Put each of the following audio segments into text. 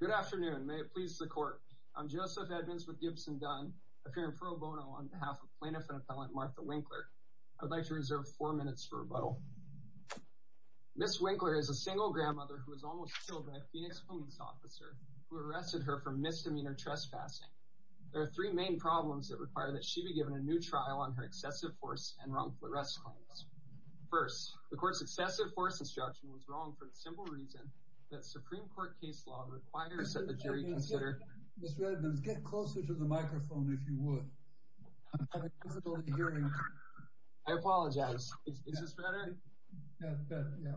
Good afternoon, may it please the court. I'm Joseph Edmonds with Gibson Dunn, appearing pro bono on behalf of plaintiff and appellant Martha Winkler. I would like to reserve four minutes for rebuttal. Ms. Winkler is a single grandmother who was almost killed by a Phoenix police officer who arrested her for misdemeanor trespassing. There are three main problems that require that she be given a new trial on her excessive force and wrongful arrest claims. First, the court's excessive force instruction was wrong for the simple reason that Supreme Court case law requires that the jury consider... Ms. Edmonds, get closer to the microphone if you would, I'm having difficulty hearing you. I apologize, is this better? Yeah, yeah.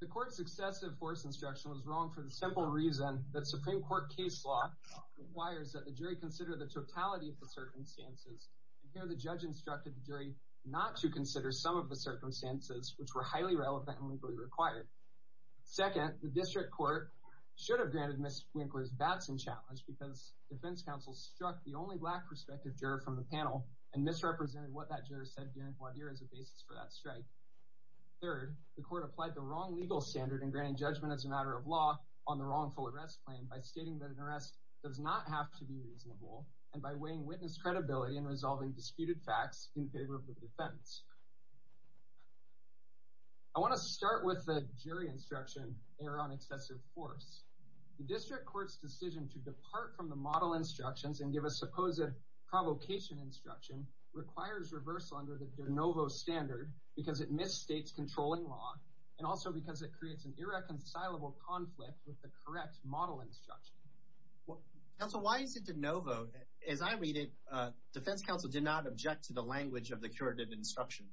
The court's excessive force instruction was wrong for the simple reason that Supreme Court case law requires that the jury consider the totality of the circumstances. Here the judge instructed the jury not to consider some of the circumstances which were highly relevant and legally required. Second, the district court should have granted Ms. Winkler's Batson challenge because defense counsel struck the only black prospective juror from the panel and misrepresented what that juror said during voir dire as a basis for that strike. Third, the court applied the wrong legal standard in granting judgment as a matter of law on the wrongful arrest claim by stating that an arrest does not have to be reasonable and by weighing witness credibility in the jury instruction error on excessive force. The district court's decision to depart from the model instructions and give a supposed provocation instruction requires reversal under the de novo standard because it misstates controlling law and also because it creates an irreconcilable conflict with the correct model instruction. Counsel, why is it de novo? As I read it, defense counsel did not object to the language of the curative instruction.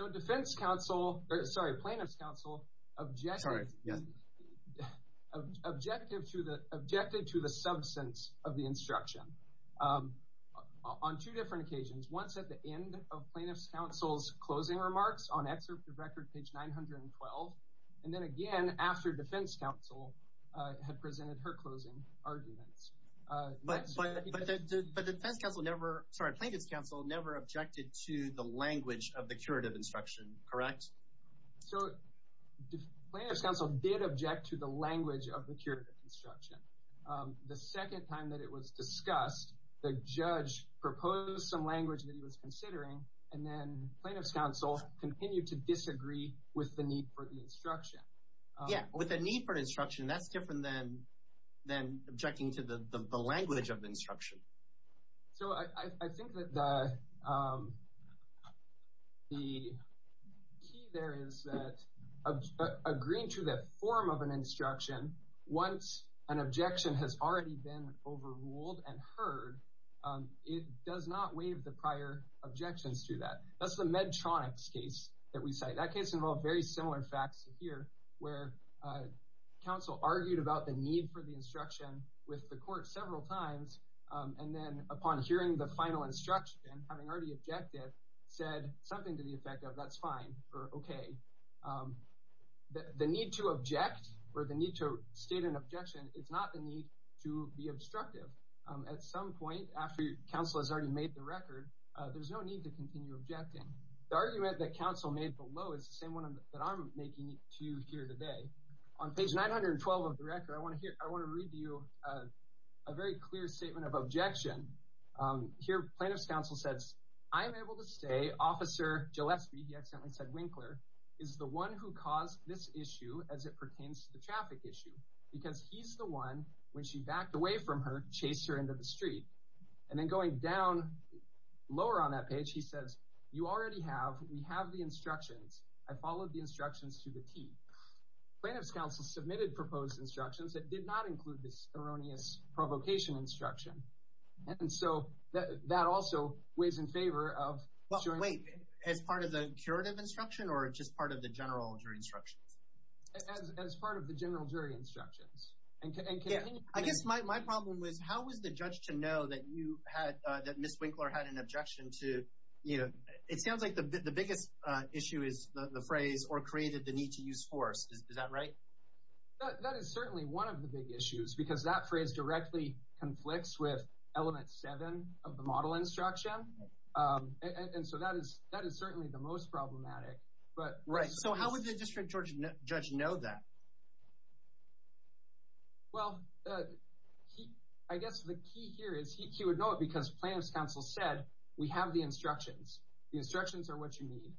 So defense counsel, sorry plaintiff's counsel, objected to the substance of the instruction on two different occasions. Once at the end of plaintiff's counsel's closing remarks on excerpt of record page 912 and then again after defense counsel had presented her closing arguments. But defense counsel never, sorry plaintiff's counsel never objected to the language of the curative instruction, correct? So plaintiff's counsel did object to the language of the curative instruction. The second time that it was discussed, the judge proposed some language that he was considering and then plaintiff's counsel continued to disagree with the need for the instruction. Yeah, with a need for instruction that's different than than objecting to the language of the instruction. The key there is that agreeing to the form of an instruction, once an objection has already been overruled and heard, it does not waive the prior objections to that. That's the Medtronics case that we cite. That case involved very similar facts here where counsel argued about the need for the instruction with the court several times and then upon hearing the final instruction, having already objected, said something to the effect of that's fine or okay. The need to object or the need to state an objection, it's not the need to be obstructive. At some point after counsel has already made the record, there's no need to continue objecting. The argument that counsel made below is the same one that I'm making to you here today. On page 912 of the record, I want to hear, I want to read to you a where plaintiff's counsel says, I'm able to say, Officer Joe Espy, he accidentally said Winkler, is the one who caused this issue as it pertains to the traffic issue because he's the one, when she backed away from her, chased her into the street. And then going down lower on that page, he says, you already have, we have the instructions. I followed the instructions to the T. Plaintiff's counsel submitted proposed instructions that did not include this erroneous provocation instruction and so that also weighs in favor of. Wait, as part of the curative instruction or just part of the general jury instructions? As part of the general jury instructions. I guess my problem was, how was the judge to know that you had, that Miss Winkler had an objection to, you know, it sounds like the biggest issue is the phrase or created the need to use force. Is that right? That is certainly one of the big issues because that phrase directly conflicts with element 7 of the model instruction. And so that is, that is certainly the most problematic. But, right, so how would the district judge know that? Well, I guess the key here is he would know it because plaintiff's counsel said, we have the instructions. The instructions are what you need.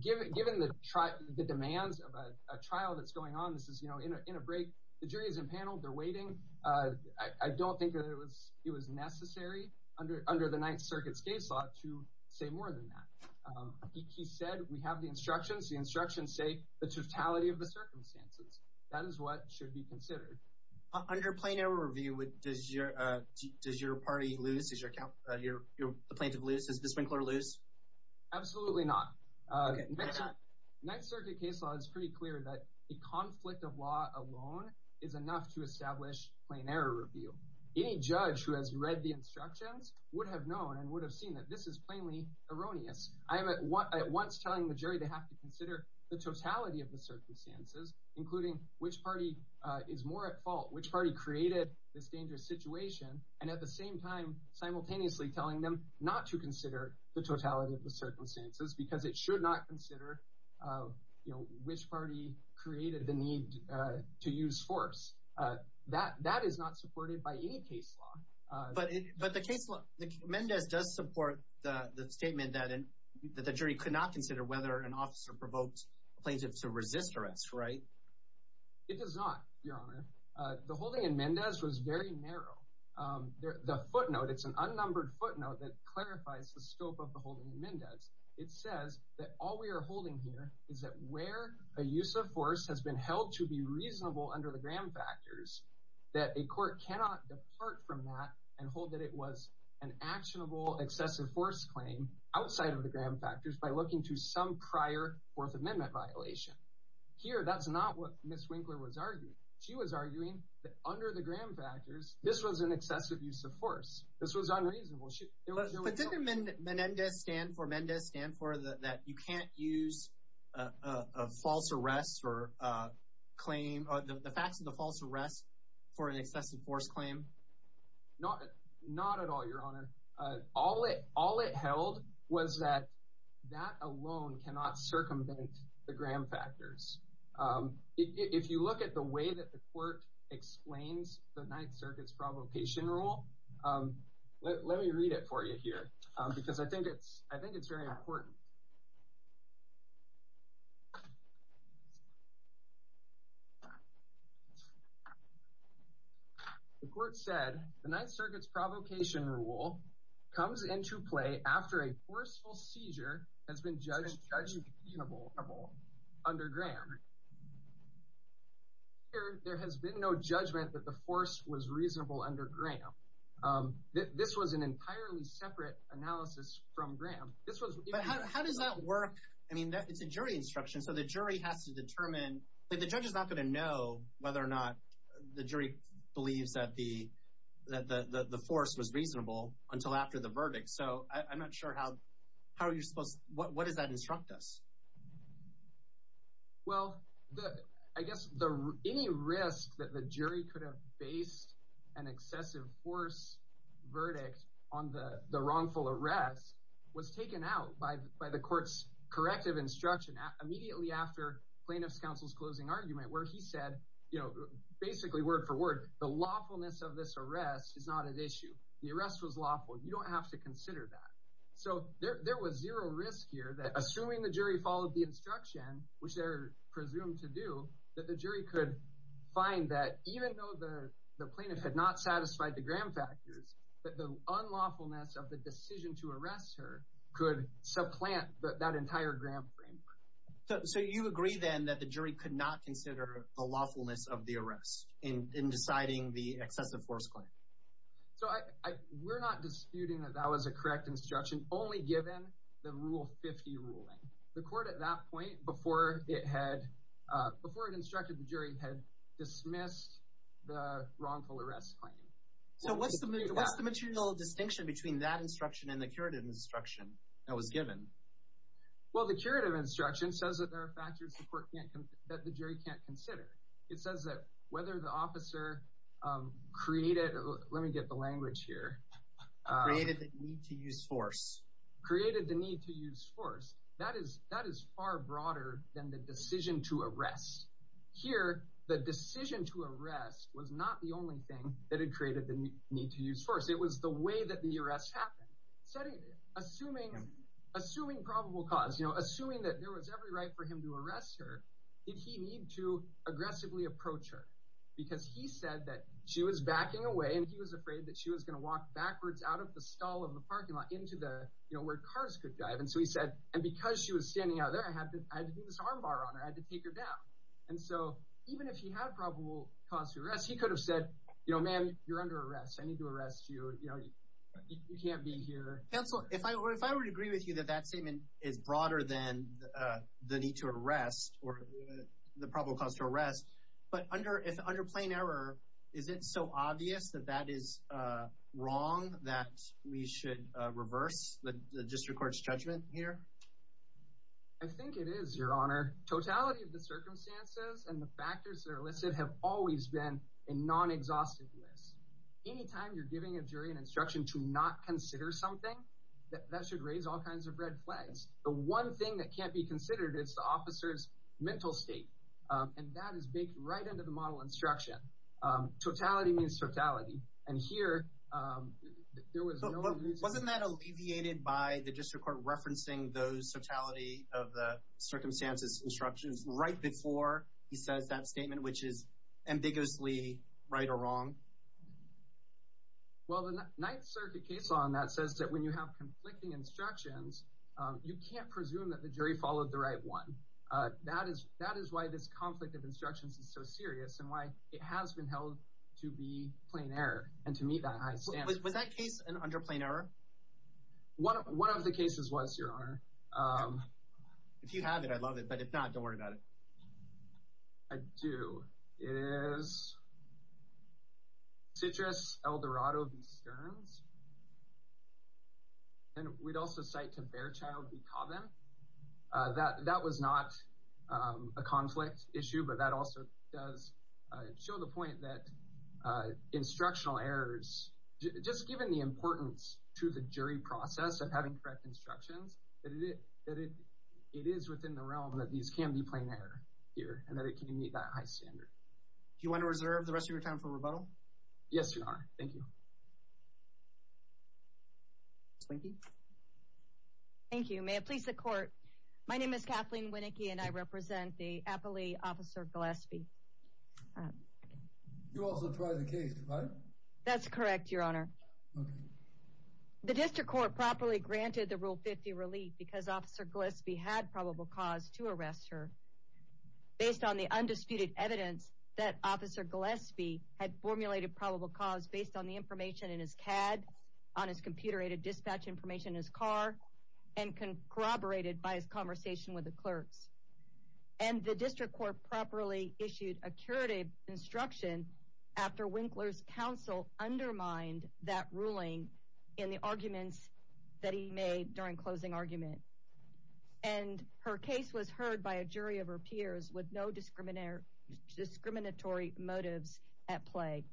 Given the demands of a trial that's going on, this is, you know, in a break, the jury's impaneled, they're waiting. I don't think that it was, it was necessary under the Ninth Circuit's case law to say more than that. He said, we have the instructions. The instructions say the totality of the circumstances. That is what should be considered. Under plain error review, does your, does your party lose? Is your, your plaintiff lose? Is the sprinkler lose? Absolutely not. Ninth Circuit case law is pretty clear that a conflict of law alone is enough to establish plain error review. Any judge who has read the instructions would have known and would have seen that this is plainly erroneous. I am at once telling the jury they have to consider the totality of the circumstances, including which party is more at fault, which party created this simultaneously telling them not to consider the totality of the circumstances because it should not consider, you know, which party created the need to use force. That, that is not supported by any case law. But, but the case law, Mendez does support the statement that the jury could not consider whether an officer provoked a plaintiff to resist arrest, right? It does not, your honor. Uh, the holding in Mendez was very narrow. Um, the, the footnote, it's an unnumbered footnote that clarifies the scope of the holding in Mendez. It says that all we are holding here is that where a use of force has been held to be reasonable under the Graham factors, that a court cannot depart from that and hold that it was an actionable excessive force claim outside of the Graham factors by looking to some prior fourth amendment violation. Here, that's not what Ms. Winkler was arguing. She was arguing that under the Graham factors, this was an excessive use of force. This was unreasonable. But didn't Mendez stand for, Mendez stand for that you can't use a false arrest or a claim, the facts of the false arrest for an excessive force claim? Not, not at all, your honor. Uh, all it, all it held was that that alone cannot circumvent the Graham factors. Um, if you look at the way that the court explains the Ninth Circuit's provocation rule, um, let, let me read it for you here, um, because I think it's, I think it's very important. The court said the Ninth Circuit's provocation rule comes into play after a judgment was reasonable under Graham. Here, there has been no judgment that the force was reasonable under Graham. Um, this was an entirely separate analysis from Graham. But how does that work? I mean, it's a jury instruction, so the jury has to determine, the judge is not going to know whether or not the jury believes that the, that the, the force was reasonable until after the verdict. So, I'm not sure how, how you're supposed, what, what does that instruct us? Well, the, I guess the, any risk that the jury could have based an excessive force verdict on the, the wrongful arrest was taken out by, by the court's corrective instruction immediately after plaintiff's counsel's closing argument, where he said, you know, basically word for word, the lawfulness of this arrest is not an issue. The So, there, there was zero risk here that, assuming the jury followed the instruction, which they're presumed to do, that the jury could find that even though the, the plaintiff had not satisfied the Graham factors, that the unlawfulness of the decision to arrest her could supplant that entire Graham framework. So, you agree then that the jury could not consider the lawfulness of the arrest in, in deciding the excessive force claim? So, I, I, we're not disputing that that was a given the Rule 50 ruling. The court, at that point, before it had, before it instructed the jury, had dismissed the wrongful arrest claim. So, what's the, what's the material distinction between that instruction and the curative instruction that was given? Well, the curative instruction says that there are factors the court can't, that the jury can't consider. It says that whether the created the need to use force, that is, that is far broader than the decision to arrest. Here, the decision to arrest was not the only thing that had created the need to use force. It was the way that the arrest happened. Assuming, assuming probable cause, you know, assuming that there was every right for him to arrest her, did he need to aggressively approach her? Because he said that she was backing away, and he was afraid that she was going to walk backwards out of the stall of the parking lot into the, you know, where cars could drive. And so, he said, and because she was standing out there, I had to, I had to do this armbar on her. I had to take her down. And so, even if he had probable cause to arrest, he could have said, you know, ma'am, you're under arrest. I need to arrest you. You know, you can't be here. Counselor, if I were, if I were to agree with you that that statement is broader than the need to arrest or the probable cause to arrest, but under, if it should reverse the district court's judgment here? I think it is, your honor. Totality of the circumstances and the factors that are listed have always been a non-exhaustive list. Anytime you're giving a jury an instruction to not consider something, that should raise all kinds of red flags. The one thing that can't be considered is the officer's mental state, and that is baked right into the model instruction. Totality means totality. And here, there was no reason... Wasn't that alleviated by the district court referencing those totality of the circumstances instructions right before he says that statement, which is ambiguously right or wrong? Well, the Ninth Circuit case law on that says that when you have conflicting instructions, you can't presume that the jury followed the serious and why it has been held to be plain error. And to me, that... Was that case an under plain error? One of the cases was, your honor. If you have it, I love it, but if not, don't worry about it. I do. It is Citrus Eldorado v. Stearns. And we'd also cite to Bearchild v. Cobham. That was not a conflict issue, but that also does show the point that instructional errors... Just given the importance to the jury process of having correct instructions, that it is within the realm that these can be plain error here, and that it can meet that high standard. Do you want to reserve the rest of your time for rebuttal? Yes, your honor. Thank you. Thank you. May it please the court. My name is Kathleen Winnicki, and I serve under the jurisdiction of Officer Gillespie. You also tried the case, right? That's correct, your honor. The district court properly granted the Rule 50 relief because Officer Gillespie had probable cause to arrest her, based on the undisputed evidence that Officer Gillespie had formulated probable cause based on the information in his CAD, on his computer-aided dispatch information in his car, and corroborated by his clerks. And the district court properly issued a curative instruction after Winkler's counsel undermined that ruling in the arguments that he made during closing argument. And her case was heard by a jury of her peers with no discriminatory motives at play.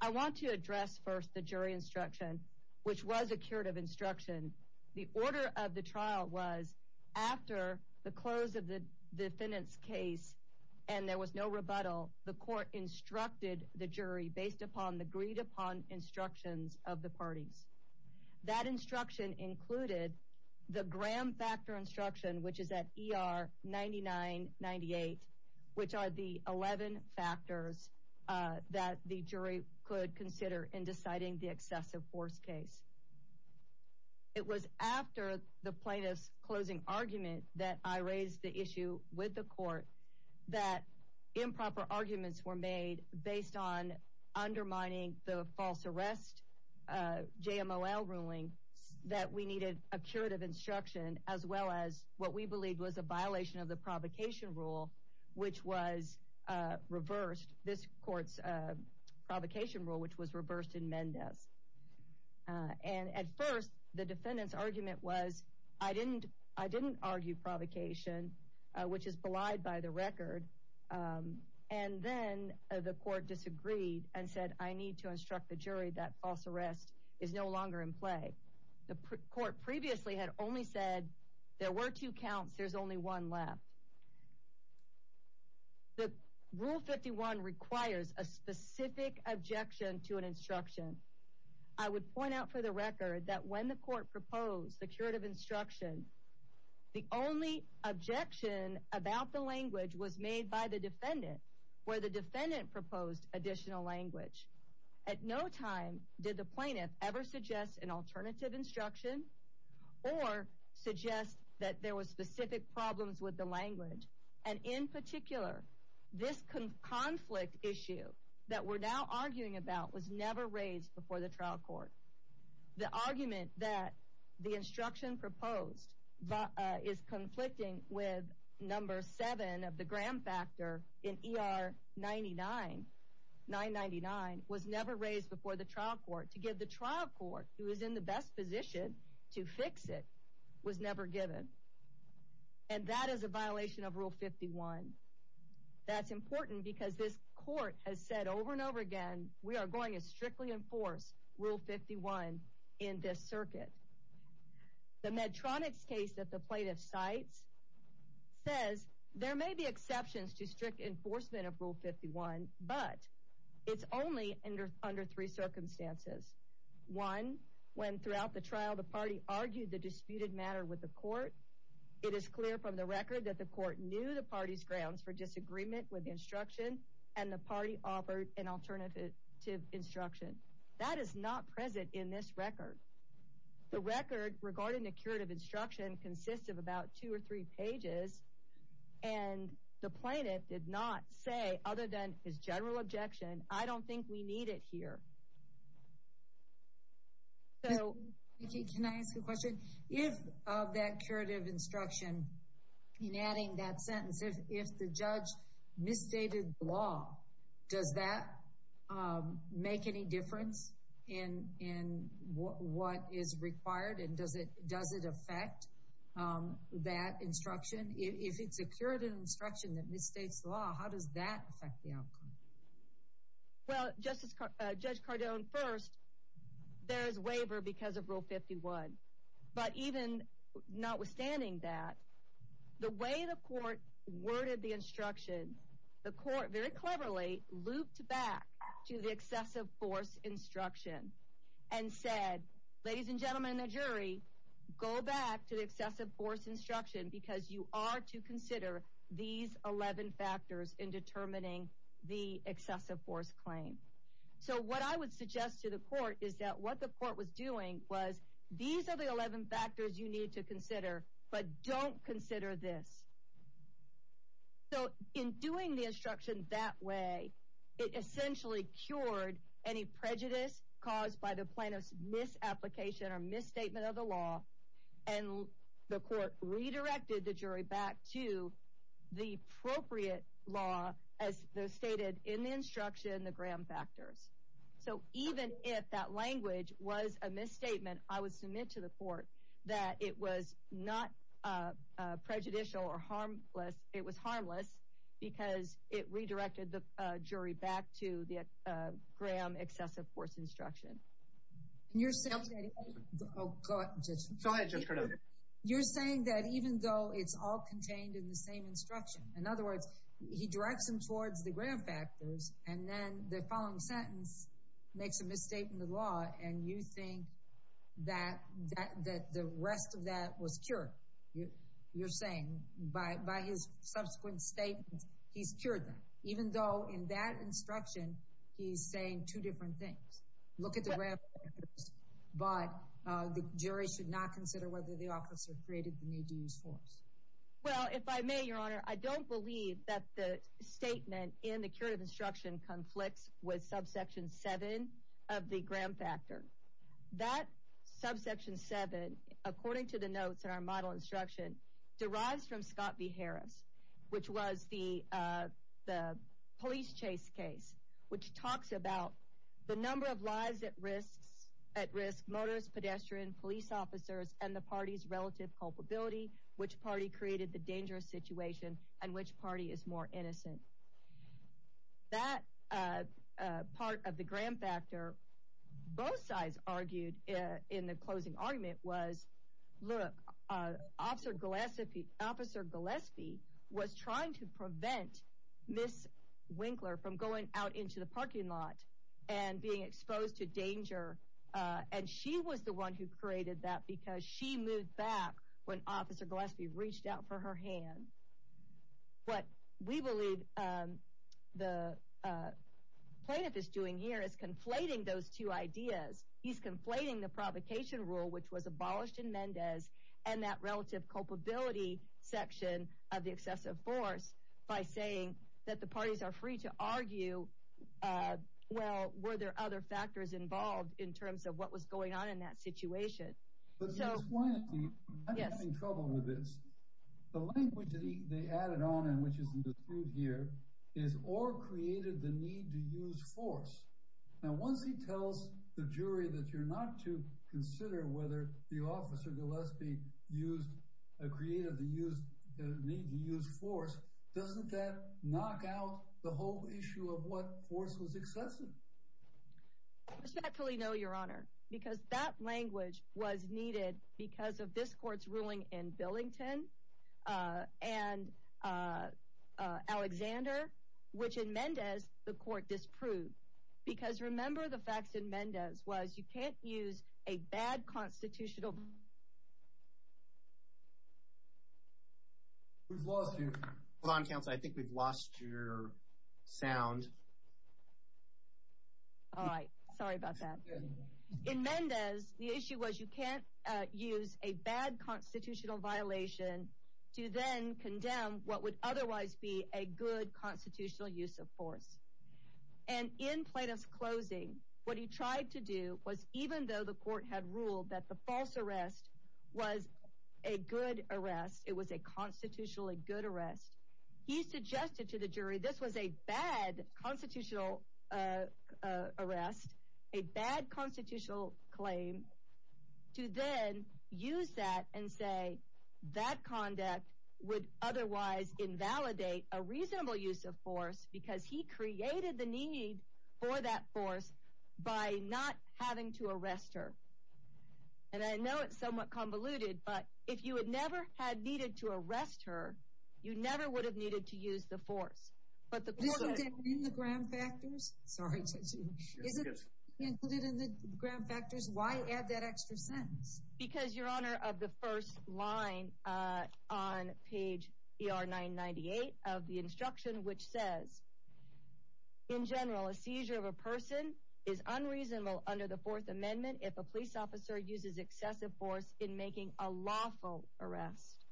I want to address first the jury instruction, which was a curative instruction. The order of the trial was after the close of the defendant's case, and there was no rebuttal, the court instructed the jury based upon the agreed-upon instructions of the parties. That instruction included the Graham factor instruction, which is at ER 9998, which are the 11 factors that the jury could consider in deciding the closing argument that I raised the issue with the court, that improper arguments were made based on undermining the false arrest JMOL ruling, that we needed a curative instruction, as well as what we believed was a violation of the provocation rule, which was reversed, this court's provocation rule, which was I didn't argue provocation, which is belied by the record, and then the court disagreed and said I need to instruct the jury that false arrest is no longer in play. The court previously had only said there were two counts, there's only one left. The Rule 51 requires a specific objection to an instruction. I would point out for the record that when the court proposed the curative instruction, the only objection about the language was made by the defendant, where the defendant proposed additional language. At no time did the plaintiff ever suggest an alternative instruction or suggest that there was specific problems with the language, and in particular, this conflict issue that we're now arguing about was never raised before the trial court. The argument that the instruction proposed is conflicting with number seven of the gram factor in ER 999 was never raised before the trial court. To give the trial court, who is in the best position to fix it, was never given, and that is a violation of Rule 51. That's important because this court has said over and over again, we are going to The Medtronic's case that the plaintiff cites says there may be exceptions to strict enforcement of Rule 51, but it's only under three circumstances. One, when throughout the trial, the party argued the disputed matter with the court. It is clear from the record that the court knew the party's grounds for disagreement with the instruction, and the party offered an alternative instruction. That is not present in this record. The record regarding the curative instruction consists of about two or three pages, and the plaintiff did not say, other than his general objection, I don't think we need it here. So, can I ask a question? If that curative instruction, in adding that in, in what is required, and does it does it affect that instruction? If it's a curative instruction that misstates the law, how does that affect the outcome? Well, Justice, Judge Cardone, first, there is waiver because of Rule 51. But even notwithstanding that, the way the court worded the instruction, the court very cleverly looped back to the excessive force instruction, and said, ladies and gentlemen in the jury, go back to the excessive force instruction because you are to consider these 11 factors in determining the excessive force claim. So what I would suggest to the court is that what the court was doing was, these are the 11 factors you need to consider, but don't consider this. So in doing the instruction that way, it essentially cured any prejudice caused by the plaintiff's misapplication or misstatement of the law, and the court redirected the jury back to the appropriate law, as stated in the instruction, the Graham factors. So even if that language was a misstatement, I was not prejudicial or harmless, it was harmless, because it redirected the jury back to the Graham excessive force instruction. And you're saying that even though it's all contained in the same instruction, in other words, he directs them towards the Graham factors, and then the following sentence makes a misstatement of the law, and you think that the rest of that was cured. You're saying by his subsequent statement, he's cured them, even though in that instruction, he's saying two different things. Look at the Graham factors, but the jury should not consider whether the officer created the need to use force. Well, if I may, Your Honor, I don't believe that the statement in the Graham factor, that subsection seven, according to the notes in our model instruction, derives from Scott v. Harris, which was the police chase case, which talks about the number of lives at risk, motorist, pedestrian, police officers, and the party's relative culpability, which party created the dangerous situation, and which party is more innocent. That part of the Graham factor, both sides argued in the closing argument was, look, Officer Gillespie was trying to prevent Ms. Winkler from going out into the parking lot and being exposed to danger, and she was the one who created that, because she moved back when Officer Gillespie reached out for her hand. What we believe the plaintiff is doing here is conflating those two ideas. He's conflating the provocation rule, which was abolished in Mendez, and that relative culpability section of the excessive force by saying that the parties are free to argue, well, were there other factors involved in terms of what was going on in that situation? But Ms. Winkler, I'm having trouble with this. The language they added on, and which isn't disproved here, is, or created the need to use force. Now, once he tells the jury that you're not to consider whether the officer, Gillespie, created the need to use force, doesn't that knock out the whole issue of what force was excessive? I respectfully know, Your Honor, because that language was needed because of this court's ruling in Billington and Alexander, which in Mendez the court disproved, because remember the facts in Mendez was you can't use a bad All right, sorry about that. In Mendez, the issue was you can't use a bad constitutional violation to then condemn what would otherwise be a good constitutional use of force. And in Plaintiff's closing, what he tried to do was even though the court had ruled that the false arrest was a good arrest, it was a constitutionally good arrest, he suggested to the jury, this was a bad constitutional arrest, a bad constitutional claim, to then use that and say that conduct would otherwise invalidate a reasonable use of force because he created the need for that force by not having to arrest her. And I know it's somewhat convoluted, but if you had never had needed to arrest her, you never would have needed to use the force. But the ground factors, sorry, ground factors, why add that extra sentence? Because, Your Honor, of the first line on page 998 of the instruction, which says, in general, a seizure of a person is unreasonable under the Fourth Amendment, if a police officer uses excessive force in making a lawful arrest.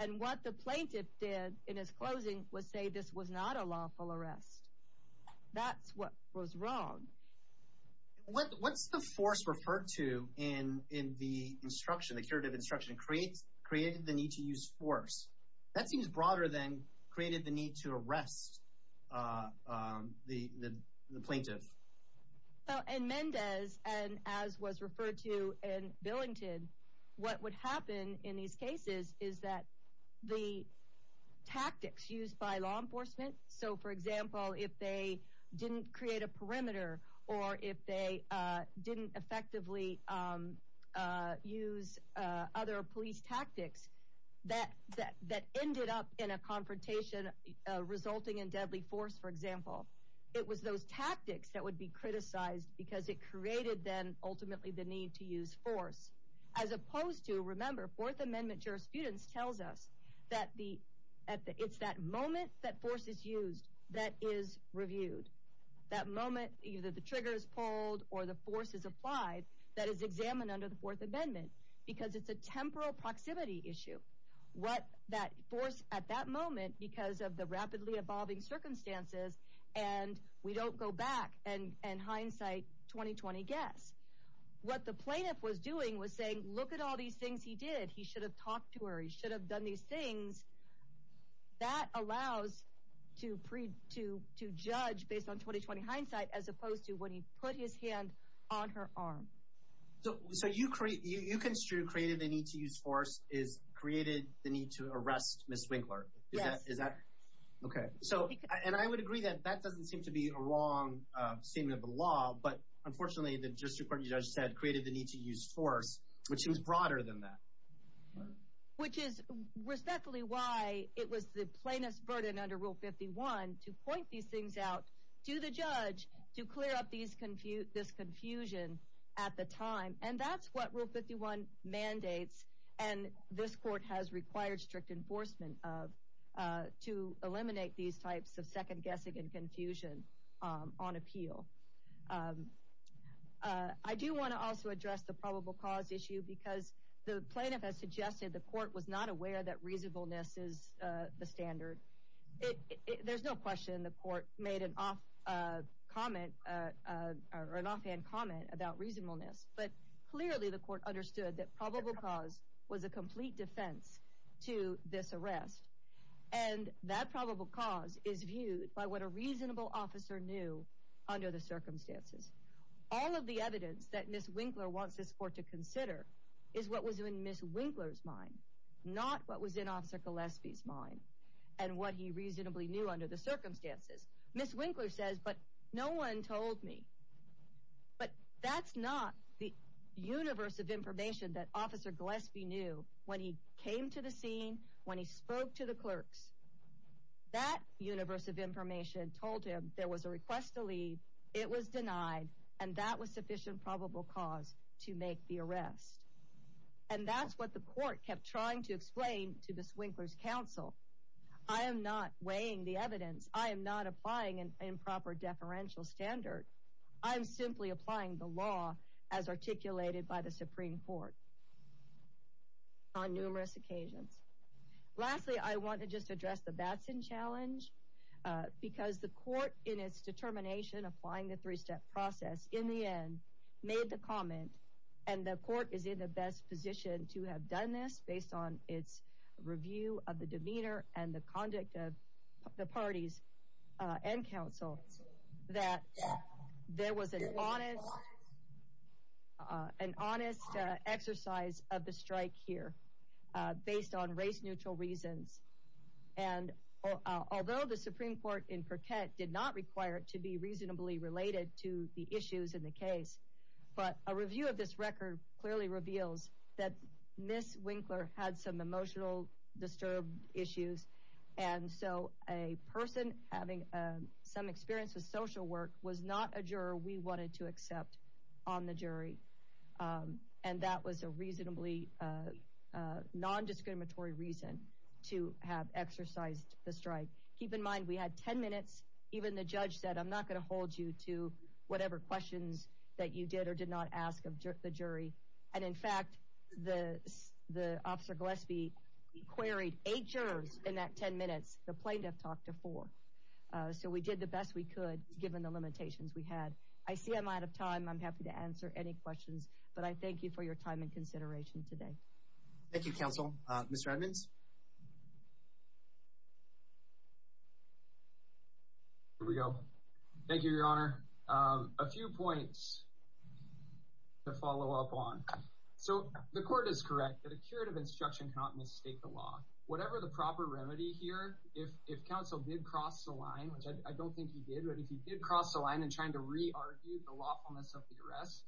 And what the plaintiff did in his closing was say this was not a lawful arrest. That's what was wrong. What's the force referred to in the instruction, the curative instruction, created the need to use force? That seems broader than created the need to arrest the plaintiff. Well, in Mendez, and as was referred to in Billington, what would happen in these cases is that the tactics used by law enforcement, so for example, if they didn't create a perimeter or if they didn't effectively use other police tactics that ended up in a confrontation resulting in deadly force, for example, it was those tactics that would be criticized because it created then ultimately the need to use force, as opposed to, remember, Fourth Amendment jurisprudence tells us that it's that moment that force is used that is reviewed. That moment, either the trigger is pulled or the force is applied that is examined under the Fourth Amendment because it's a temporal proximity issue. What that force at that moment, because of the circumstances, and we don't go back and hindsight 20-20 guess. What the plaintiff was doing was saying, look at all these things he did. He should have talked to her. He should have done these things. That allows to judge based on 20-20 hindsight, as opposed to when he put his hand on her arm. So you construe created the need to use force is created the need to use force, which is broader than that, which is respectfully why it was the plainest burden under Rule 51 to point these things out to the judge to clear up these confused this confusion at the time. And that's what Rule 51 mandates. And this court has required strict enforcement of to eliminate these types of second guessing and confusion on appeal. I do want to also address the probable cause issue because the plaintiff has suggested the court was not aware that reasonableness is the standard. There's no question the court made an off comment or an offhand comment about reasonableness. But clearly the court understood that probable cause was a complete defense to this arrest. And that probable cause is viewed by what a reasonable officer knew under the circumstances. All of the evidence that Ms. Winkler wants this court to consider is what was in Ms. Winkler's mind, not what was in Officer Gillespie's mind and what he reasonably knew under the circumstances. Ms. Winkler says, but no one told me. But that's not the universe of information that Officer Gillespie knew when he came to the scene, when he spoke to the clerks. That universe of information told him there was a request to leave. It was denied. And that was sufficient probable cause to make the arrest. And that's what the court kept trying to explain to Ms. Winkler's counsel. I am not weighing the evidence. I am not applying an improper deferential standard. I'm simply applying the law as articulated by the Supreme Court on numerous occasions. Lastly, I want to just address the Batson challenge because the court in its determination applying the three step process in the end made the comment. And the court is in the best position to have done this based on its review of the demeanor and the conduct of the parties and counsel that there was an honest, an honest exercise of the strike here based on race neutral reasons. And although the Supreme Court in Perquette did not require it to be reasonably related to the issues in the case, but a review of this record clearly reveals that Ms. Winkler had some emotional disturbed issues. And so a person having some experience with social work was not a juror we wanted to accept on the jury. And that was a reasonably non-discriminatory reason to have exercised the strike. Keep in mind, we had 10 minutes. Even the judge said, I'm not going to hold you to whatever questions that you did or did not ask of the jury. And in fact, the officer Gillespie queried eight jurors in that 10 minutes. The plaintiff talked to four. So we did the best we could given the limitations we had. I see I'm out of time. I'm happy to answer any questions, but I thank you for your time and consideration today. Thank you, counsel. Mr. Edmonds. Here we go. Thank you, Your Honor. A few points to follow up on. So the court is correct that a curative instruction cannot mistake the law. Whatever the proper remedy here, if counsel did cross the line, which I don't think he did, but if he did cross the line and trying to re-argue the lawfulness of the arrest,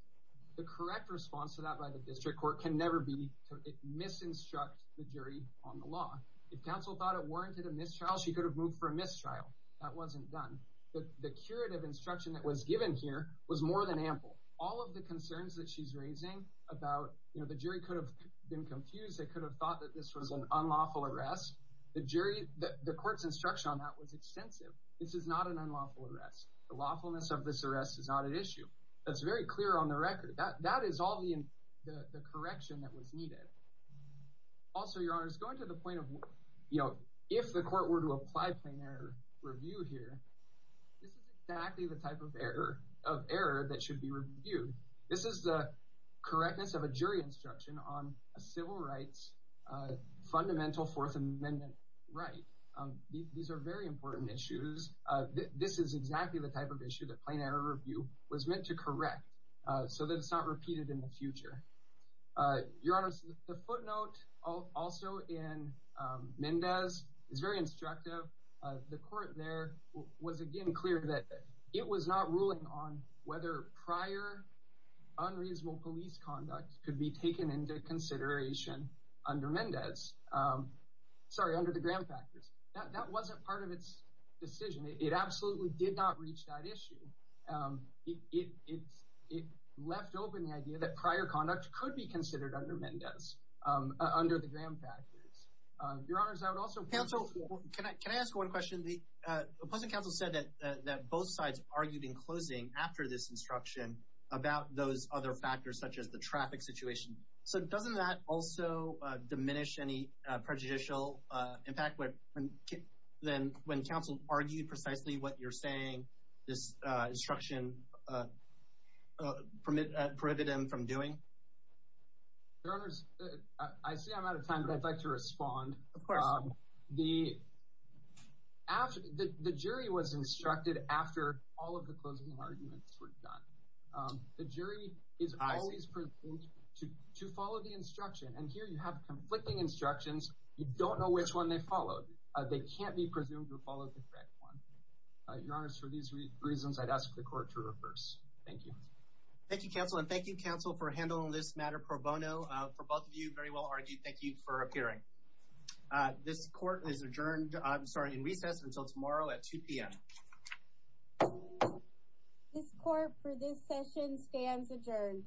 the correct response to that by the district court can never be to misinstruct the jury on the law. If counsel thought it warranted a mistrial, she could have moved for a mistrial. That wasn't done. The curative instruction that was given here was more than ample. All of the concerns that she's raising about, you know, the jury could have been confused. They could have thought that this was an unlawful arrest. The jury, the court's instruction on that was extensive. This is not an unlawful arrest. The lawfulness of this arrest is not an issue. That's very clear on the record. That is all the correction that was needed. Also, Your Honor, going to the point of, you know, if the court were to apply plain error should be reviewed. This is the correctness of a jury instruction on a civil rights fundamental Fourth Amendment right. These are very important issues. This is exactly the type of issue that plain error review was meant to correct so that it's not repeated in the future. Your Honor, the footnote also in Mendez is very instructive. The court there was, again, clear that it was not ruling on whether prior unreasonable police conduct could be taken into consideration under Mendez. Sorry, under the Graham factors. That wasn't part of its decision. It absolutely did not reach that issue. It left open the idea that prior conduct could be considered under Mendez under the Graham factors. Your Honors, I would also counsel. Can I can I ask one question? The opposing counsel said that both sides argued in closing after this instruction about those other factors, such as the traffic situation. So doesn't that also diminish any prejudicial impact? And then when counsel argued precisely what you're saying, this instruction from it prohibited him from doing. Your Honors, I see I'm out of time, but I'd like to ask. The jury was instructed after all of the closing arguments were done. The jury is always to follow the instruction. And here you have conflicting instructions. You don't know which one they followed. They can't be presumed to follow the correct one. Your Honors, for these reasons, I'd ask the court to reverse. Thank you. Thank you, counsel. And thank you, counsel, for handling this matter pro bono for both of you. Very well argued. Thank you for appearing. This court is adjourned. I'm sorry, in recess until tomorrow at 2 p.m. This court for this session stands adjourned.